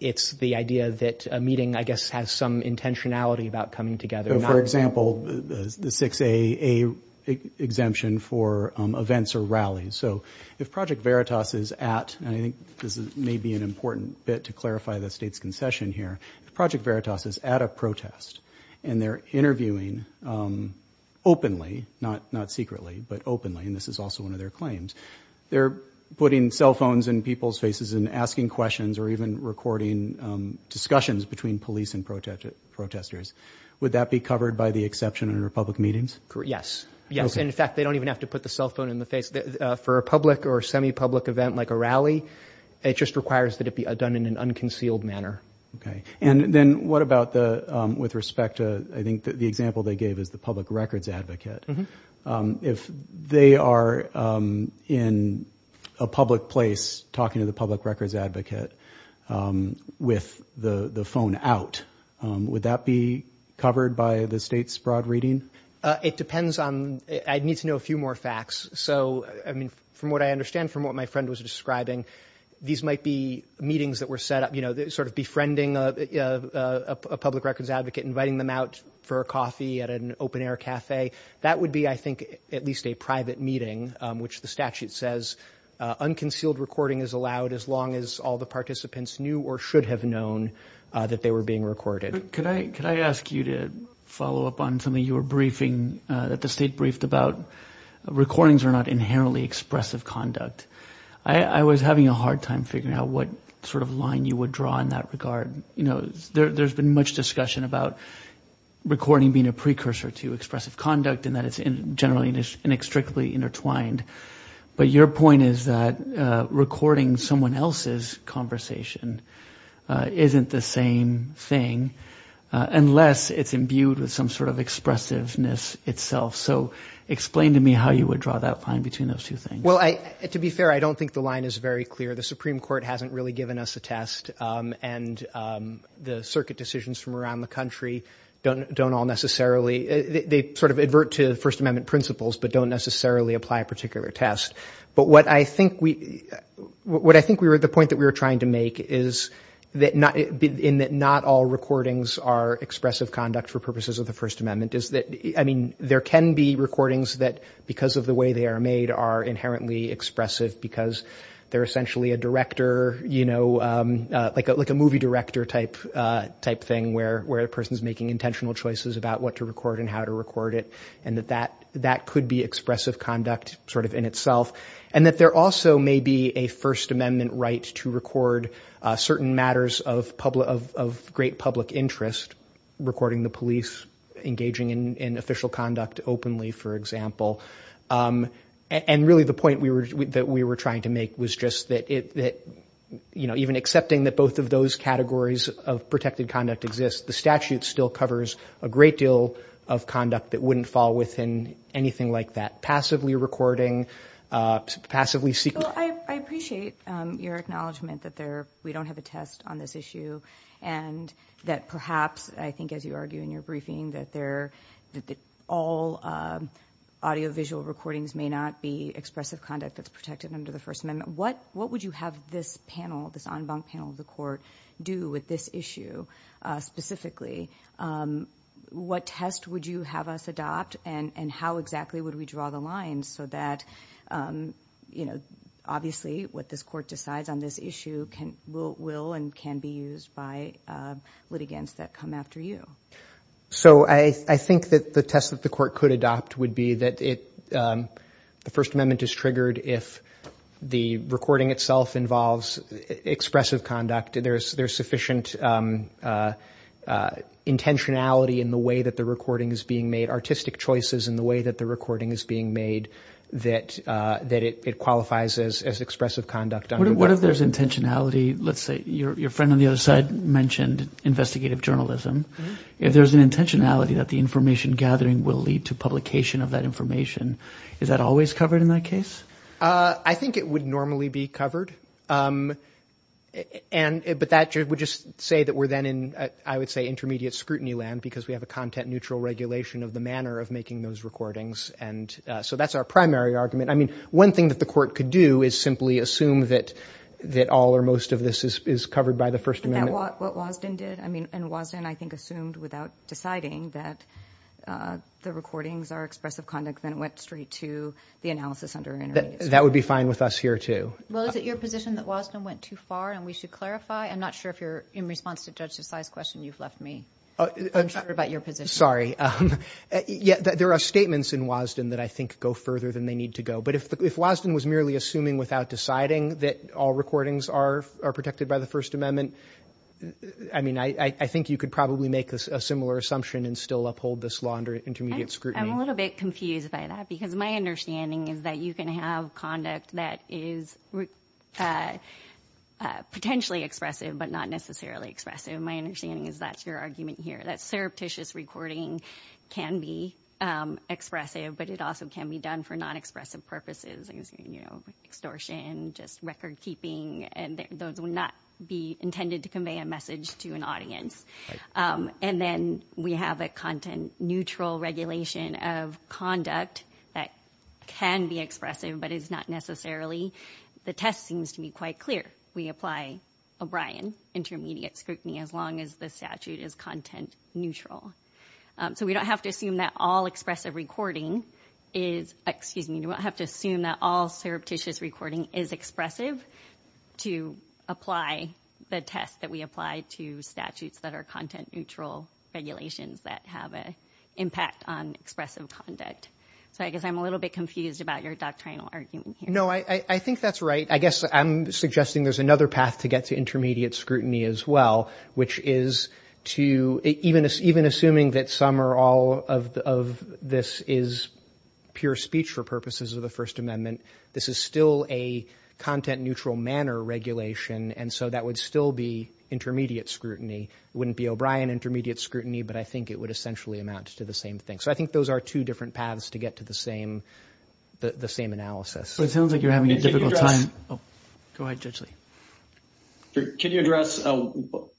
it's the idea that a meeting, I guess, has some intentionality about coming together. For example, the 6A exemption for events or rallies. So if Project Veritas is at... and I think this may be an important bit to clarify the State's concession here. If Project Veritas is at a protest and they're interviewing openly, not secretly, but openly, and this is also one of their claims, they're putting cell phones in people's faces and asking questions or even recording discussions between police and protesters. Would that be covered by the exception under public meetings? Yes. Yes, and in fact, they don't even have to put the cell phone in the face. For a public or semi-public event like a rally, it just requires that it be done in an unconcealed manner. Okay, and then what about with respect to... I think the example they gave is the public records advocate. If they are in a public place talking to the public records advocate with the phone out, would that be covered by the State's broad reading? It depends on... I'd need to know a few more facts. So, I mean, from what I understand from what my friend was describing, these might be meetings that were set up, you know, sort of befriending a public records advocate, inviting them out for a coffee at an open-air cafe. That would be, I think, at least a private meeting, which the statute says unconcealed recording is allowed as long as all the participants knew or should have known that they were being recorded. Could I ask you to follow up on something you were briefing, that the State briefed about? Recordings are not inherently expressive conduct. I was having a hard time figuring out what sort of line you would draw in that regard. You know, there's been much discussion about recording being a precursor to expressive conduct and that it's generally inextricably intertwined, but your point is that recording someone else's conversation isn't the same thing unless it's imbued with some sort of expressiveness itself. So explain to me how you would draw that line between those two things. Well, to be fair, I don't think the line is very clear. The Supreme Court hasn't really given us a test and the circuit decisions from around the country don't all necessarily... They sort of advert to First Amendment principles but don't necessarily apply a particular test. But what I think we... The point that we were trying to make is that not all recordings are expressive conduct for purposes of the First Amendment. There can be recordings that, because of the way they are made, are inherently expressive because they're essentially a director, like a movie director type thing where a person's making intentional choices about what to record and how to record it and that that could be expressive conduct sort of in itself. And that there also may be a First Amendment right to record certain matters of great public interest, recording the police engaging in official conduct openly, for example. And really the point that we were trying to make was just that, you know, even accepting that both of those categories of protected conduct exist, the statute still covers a great deal of conduct that wouldn't fall within anything like that. Passively recording, passively... Well, I appreciate your acknowledgment that we don't have a test on this issue and that perhaps, I think, as you argue in your briefing, that all audiovisual recordings may not be expressive conduct that's protected under the First Amendment. What would you have this panel, this en banc panel of the court do with this issue specifically? What test would you have us adopt and how exactly would we draw the lines so that, you know, obviously what this court decides on this issue will and can be used by litigants that come after you? So I think that the test that the court could adopt would be that the First Amendment is triggered if the recording itself involves expressive conduct, there's sufficient intentionality in the way that the recording is being made, artistic choices in the way that the recording is being made, that it qualifies as expressive conduct. What if there's intentionality? Let's say your friend on the other side mentioned investigative journalism. If there's an intentionality that the information gathering will lead to publication of that information, is that always covered in that case? I think it would normally be covered. But that would just say that we're then in, I would say, intermediate scrutiny land because we have a content-neutral regulation of the manner of making those recordings. So that's our primary argument. I mean, one thing that the court could do is simply assume that all or most of this is covered by the First Amendment. Isn't that what Wosden did? I mean, and Wosden, I think, assumed without deciding that the recordings are expressive conduct and went straight to the analysis under intermediate scrutiny. That would be fine with us here, too. Well, is it your position that Wosden went too far? And we should clarify. I'm not sure if you're in response to Judge Desai's question. You've left me unsure about your position. Sorry. There are statements in Wosden that I think go further than they need to go. But if Wosden was merely assuming without deciding that all recordings are protected by the First Amendment, I mean, I think you could probably make a similar assumption and still uphold this law under intermediate scrutiny. I'm a little bit confused by that because my understanding is that you can have conduct that is potentially expressive but not necessarily expressive. My understanding is that's your argument here, that surreptitious recording can be expressive but it also can be done for non-expressive purposes, like extortion, just record-keeping, and those would not be intended to convey a message to an audience. Right. And then we have a content-neutral regulation of conduct that can be expressive but is not necessarily. The test seems to be quite clear. We apply O'Brien intermediate scrutiny as long as the statute is content-neutral. So we don't have to assume that all expressive recording is... Excuse me. You don't have to assume that all surreptitious recording is expressive to apply the test that we apply to statutes that are content-neutral regulations that have an impact on expressive conduct. So I guess I'm a little bit confused about your doctrinal argument here. No, I think that's right. I guess I'm suggesting there's another path to get to intermediate scrutiny as well, which is to... Even assuming that some or all of this is pure speech for purposes of the First Amendment, this is still a content-neutral manner regulation, and so that would still be intermediate scrutiny. It wouldn't be O'Brien intermediate scrutiny, but I think it would essentially amount to the same thing. So I think those are two different paths to get to the same analysis. It sounds like you're having a difficult time. Go ahead, Judge Lee. Can you address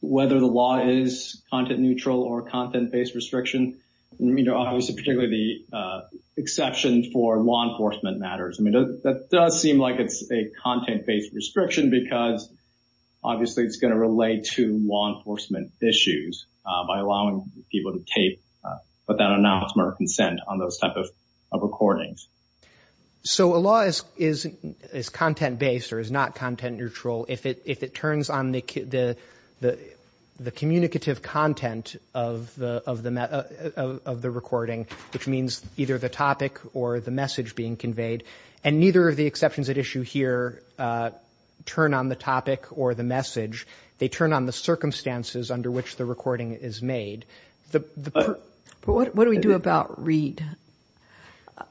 whether the law is content-neutral or content-based restriction? I mean, obviously, particularly the exception for law enforcement matters. I mean, that does seem like it's a content-based restriction because obviously it's going to relate to law enforcement issues by allowing people to tape, without an announcement or consent on those type of recordings. So a law is content-based or is not content-neutral if it turns on the communicative content of the recording, which means either the topic or the message being conveyed, and neither of the exceptions at issue here turn on the topic or the message. They turn on the circumstances under which the recording is made. But what do we do about read?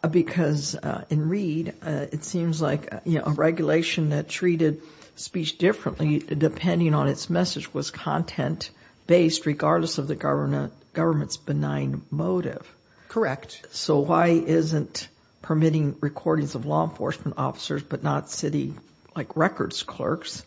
Because in read, it seems like a regulation that treated speech differently depending on its message was content-based regardless of the government's benign motive. Correct. So why isn't permitting recordings of law enforcement officers but not city, like, records clerks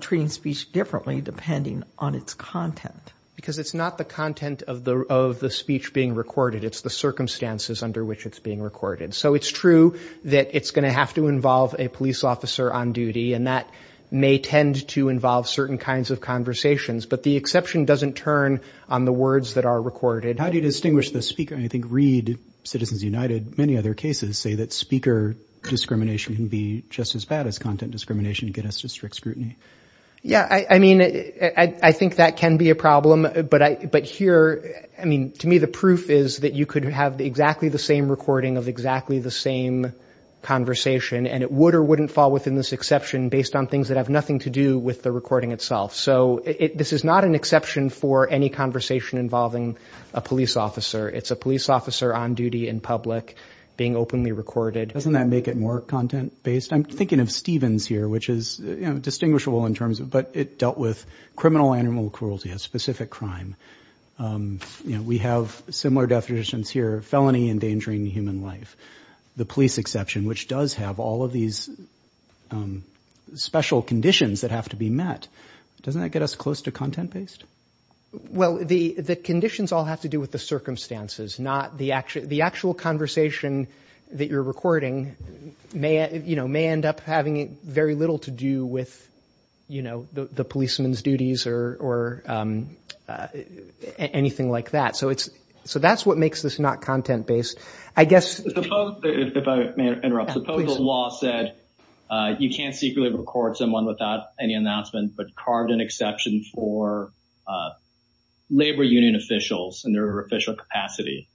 treating speech differently depending on its content? Because it's not the content of the speech being recorded, it's the circumstances under which it's being recorded. So it's true that it's going to have to involve a police officer on duty, and that may tend to involve certain kinds of conversations, but the exception doesn't turn on the words that are recorded. How do you distinguish the speaker? I think read, Citizens United, many other cases, say that speaker discrimination can be just as bad as content discrimination to get us to strict scrutiny. Yeah, I mean, I think that can be a problem, but here, I mean, to me the proof is that you could have exactly the same recording of exactly the same conversation, and it would or wouldn't fall within this exception based on things that have nothing to do with the recording itself. So this is not an exception for any conversation involving a police officer. It's a police officer on duty in public being openly recorded. Doesn't that make it more content-based? I'm thinking of Stevens here, which is distinguishable, but it dealt with criminal animal cruelty, a specific crime. We have similar definitions here, felony endangering human life, the police exception, which does have all of these special conditions that have to be met. Doesn't that get us close to content-based? Well, the conditions all have to do with the circumstances, not the actual conversation that you're recording may end up having very little to do with the policeman's duties or anything like that. So that's what makes this not content-based. I guess... If I may interrupt, suppose the law said you can't secretly record someone without any announcement, but carved an exception for labor union officials in their official capacity.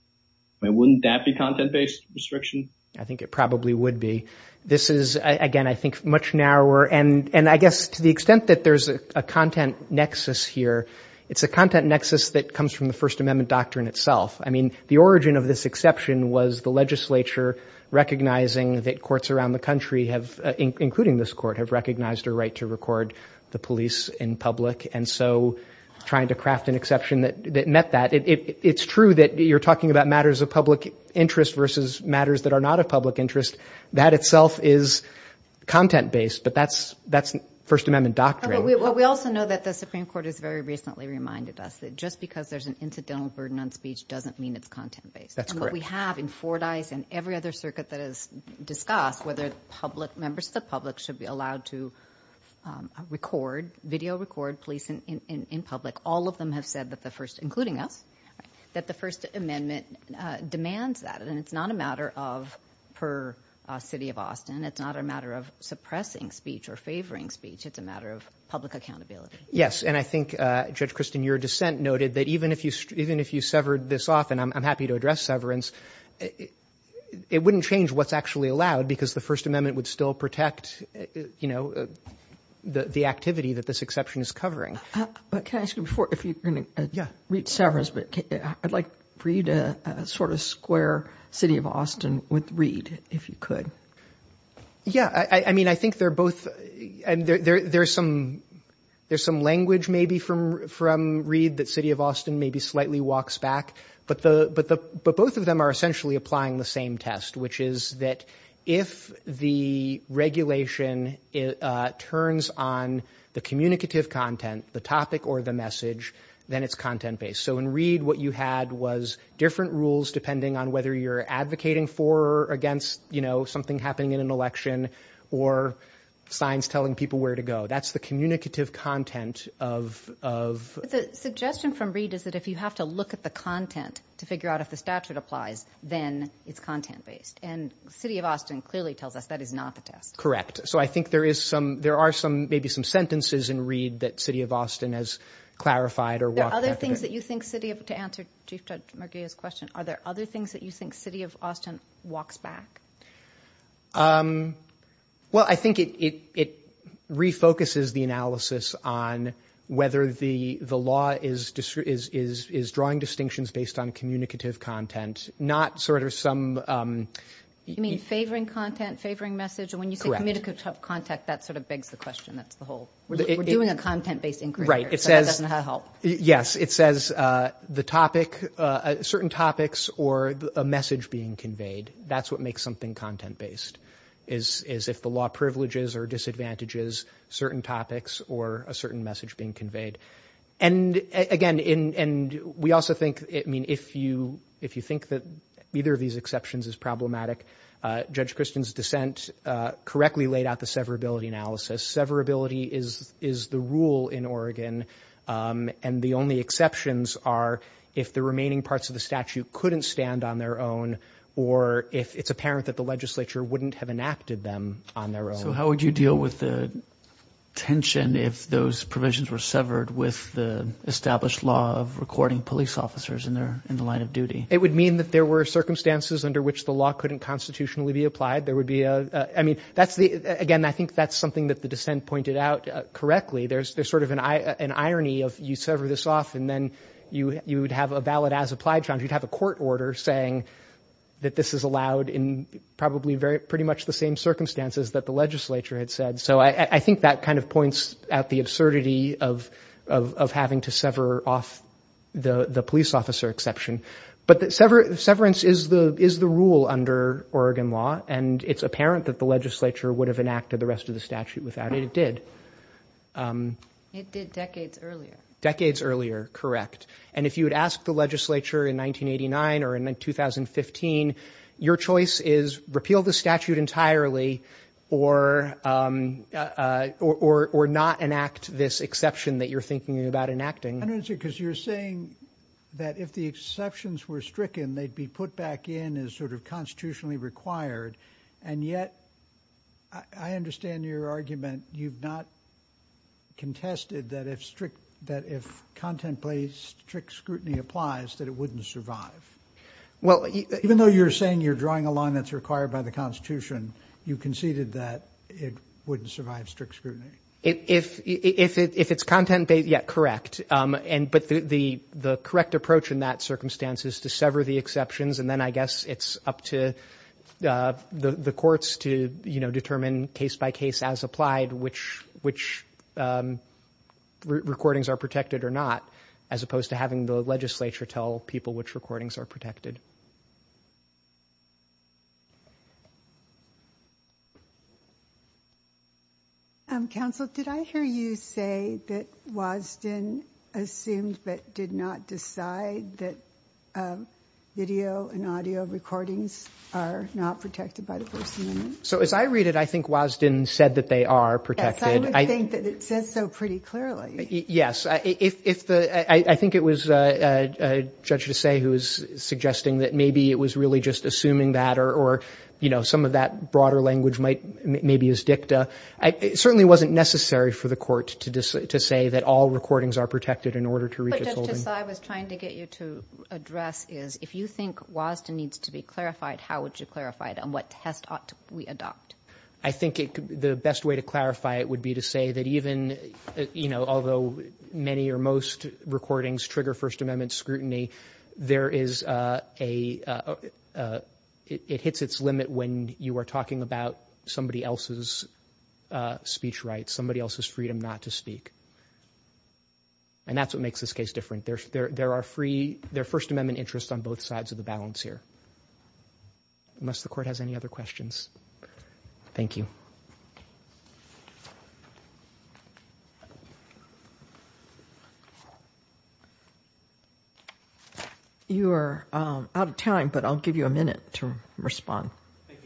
Wouldn't that be content-based restriction? I think it probably would be. This is, again, I think much narrower, and I guess to the extent that there's a content nexus here, it's a content nexus that comes from the First Amendment doctrine itself. I mean, the origin of this exception was the legislature recognizing that courts around the country, including this court, have recognized a right to record the police in public, and so trying to craft an exception that met that. It's true that you're talking about matters of public interest versus matters that are not of public interest. That itself is content-based, but that's First Amendment doctrine. We also know that the Supreme Court has very recently reminded us that just because there's an incidental burden on speech doesn't mean it's content-based. That's correct. And what we have in Fordyce and every other circuit that has discussed whether members of the public should be allowed to record, video record police in public, all of them have said that the First, including us, that the First Amendment demands that. And it's not a matter of per city of Austin. It's not a matter of suppressing speech or favoring speech. It's a matter of public accountability. Yes, and I think, Judge Kristen, your dissent noted that even if you severed this off, and I'm happy to address severance, it wouldn't change what's actually allowed because the First Amendment would still protect, you know, the activity that this exception is covering. But can I ask you before, if you're going to read severance, I'd like for you to sort of square city of Austin with Reed, if you could. Yeah. I mean, I think they're both... There's some language maybe from Reed that city of Austin maybe slightly walks back, but both of them are essentially applying the same test, which is that if the regulation turns on the communicative content, the topic or the message, then it's content-based. So in Reed, what you had was different rules depending on whether you're advocating for or against, you know, something happening in an election or signs telling people where to go. That's the communicative content of... The suggestion from Reed is that if you have to look at the content to figure out if the statute applies, then it's content-based. And city of Austin clearly tells us that is not the test. Correct. So I think there are maybe some sentences in Reed that city of Austin has clarified or walked back a bit. Are there other things that you think city of... To answer Chief Judge Murguia's question, are there other things that you think city of Austin walks back? Well, I think it refocuses the analysis on whether the law is drawing distinctions based on communicative content, not sort of some... You mean favoring content, favoring message? Correct. Communicative content, that sort of begs the question, that's the whole... We're doing a content-based inquiry here, so that doesn't help. Yes, it says the topic... Certain topics or a message being conveyed, that's what makes something content-based is if the law privileges or disadvantages certain topics or a certain message being conveyed. And, again, we also think... I mean, if you think that either of these exceptions is problematic, Judge Christian's dissent correctly laid out the severability analysis. Severability is the rule in Oregon, and the only exceptions are if the remaining parts of the statute couldn't stand on their own or if it's apparent that the legislature wouldn't have enacted them on their own. So how would you deal with the tension if those provisions were severed with the established law of recording police officers in the line of duty? It would mean that there were circumstances under which the law couldn't constitutionally be applied. Again, I think that's something that the dissent pointed out correctly. There's sort of an irony of you sever this off and then you would have a valid as-applied charge. You'd have a court order saying that this is allowed in probably pretty much the same circumstances that the legislature had said. So I think that kind of points at the absurdity of having to sever off the police officer exception. But severance is the rule under Oregon law, and it's apparent that the legislature would have enacted the rest of the statute without it. It did. It did decades earlier. Decades earlier, correct. And if you had asked the legislature in 1989 or in 2015, your choice is repeal the statute entirely or not enact this exception that you're thinking about enacting. Because you're saying that if the exceptions were stricken, they'd be put back in as sort of constitutionally required. And yet, I understand your argument. You've not contested that if strict, that if content-based strict scrutiny applies, that it wouldn't survive. Well, even though you're saying you're drawing a line that's required by the Constitution, you conceded that it wouldn't survive strict scrutiny. If it's content-based, yeah, correct. But the correct approach in that circumstance is to sever the exceptions, and then I guess it's up to the courts to determine case-by-case as applied which recordings are protected or not, as opposed to having the legislature tell people which recordings are protected. Counsel, did I hear you say that Wasden assumed but did not decide that video and audio recordings are not protected by the First Amendment? So as I read it, I think Wasden said that they are protected. Yes, I would think that it says so pretty clearly. Yes, I think it was Judge Desais who was suggesting that they were protected. It certainly wasn't necessary for the court to say that all recordings are protected in order to reach its holding. What Judge Desais was trying to get you to address is if you think Wasden needs to be clarified, how would you clarify it and what test ought we adopt? I think the best way to clarify it would be to say that even, you know, although many or most recordings trigger First Amendment scrutiny, there is a... It hits its limit when you are talking about somebody else's speech rights, somebody else's freedom not to speak. And that's what makes this case different. There are First Amendment interests on both sides of the balance here. Unless the court has any other questions. Thank you. You are out of time, but I'll give you a minute to respond. Thank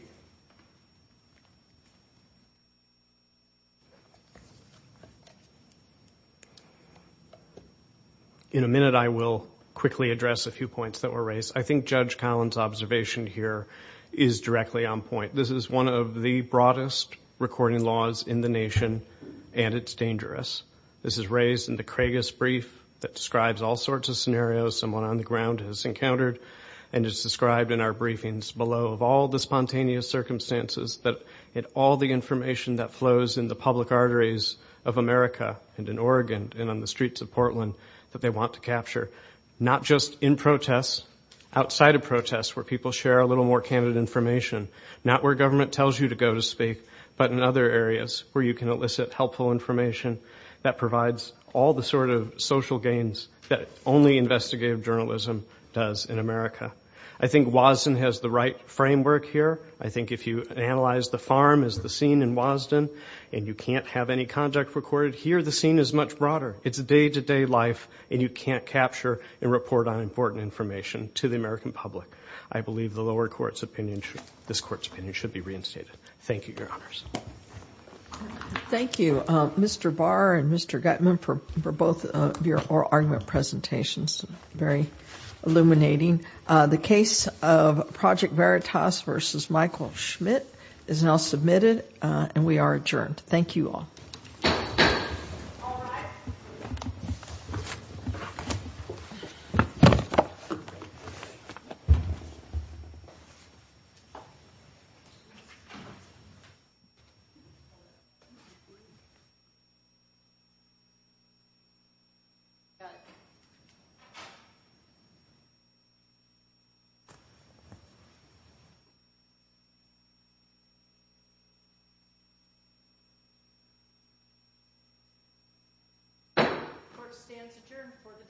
you. In a minute, I will quickly address a few points that were raised. I think Judge Collins' observation here is directly on point. This is one of the broadest recording laws in the nation, and it's dangerous. This is raised in the Craigus Brief that describes all sorts of scenarios someone on the ground has encountered, and it's described in our briefings below of all the spontaneous circumstances and all the information that flows in the public arteries of America and in Oregon and on the streets of Portland that they want to capture, not just in protests, outside of protests where people share a little more candid information, not where government tells you to go to speak, but in other areas where you can elicit helpful information that provides all the sort of social gains that only investigative journalism does in America. I think WASDN has the right framework here. I think if you analyze the farm as the scene in WASDN and you can't have any contact recorded here, the scene is much broader. It's a day-to-day life, and you can't capture and report on important information to the American public. I believe this Court's opinion should be reinstated. Thank you, Your Honors. Thank you, Mr. Barr and Mr. Gutman, for both of your oral argument presentations. Very illuminating. The case of Project Veritas v. Michael Schmidt is now submitted, and we are adjourned. Thank you all. Thank you. Court stands adjourned for the day.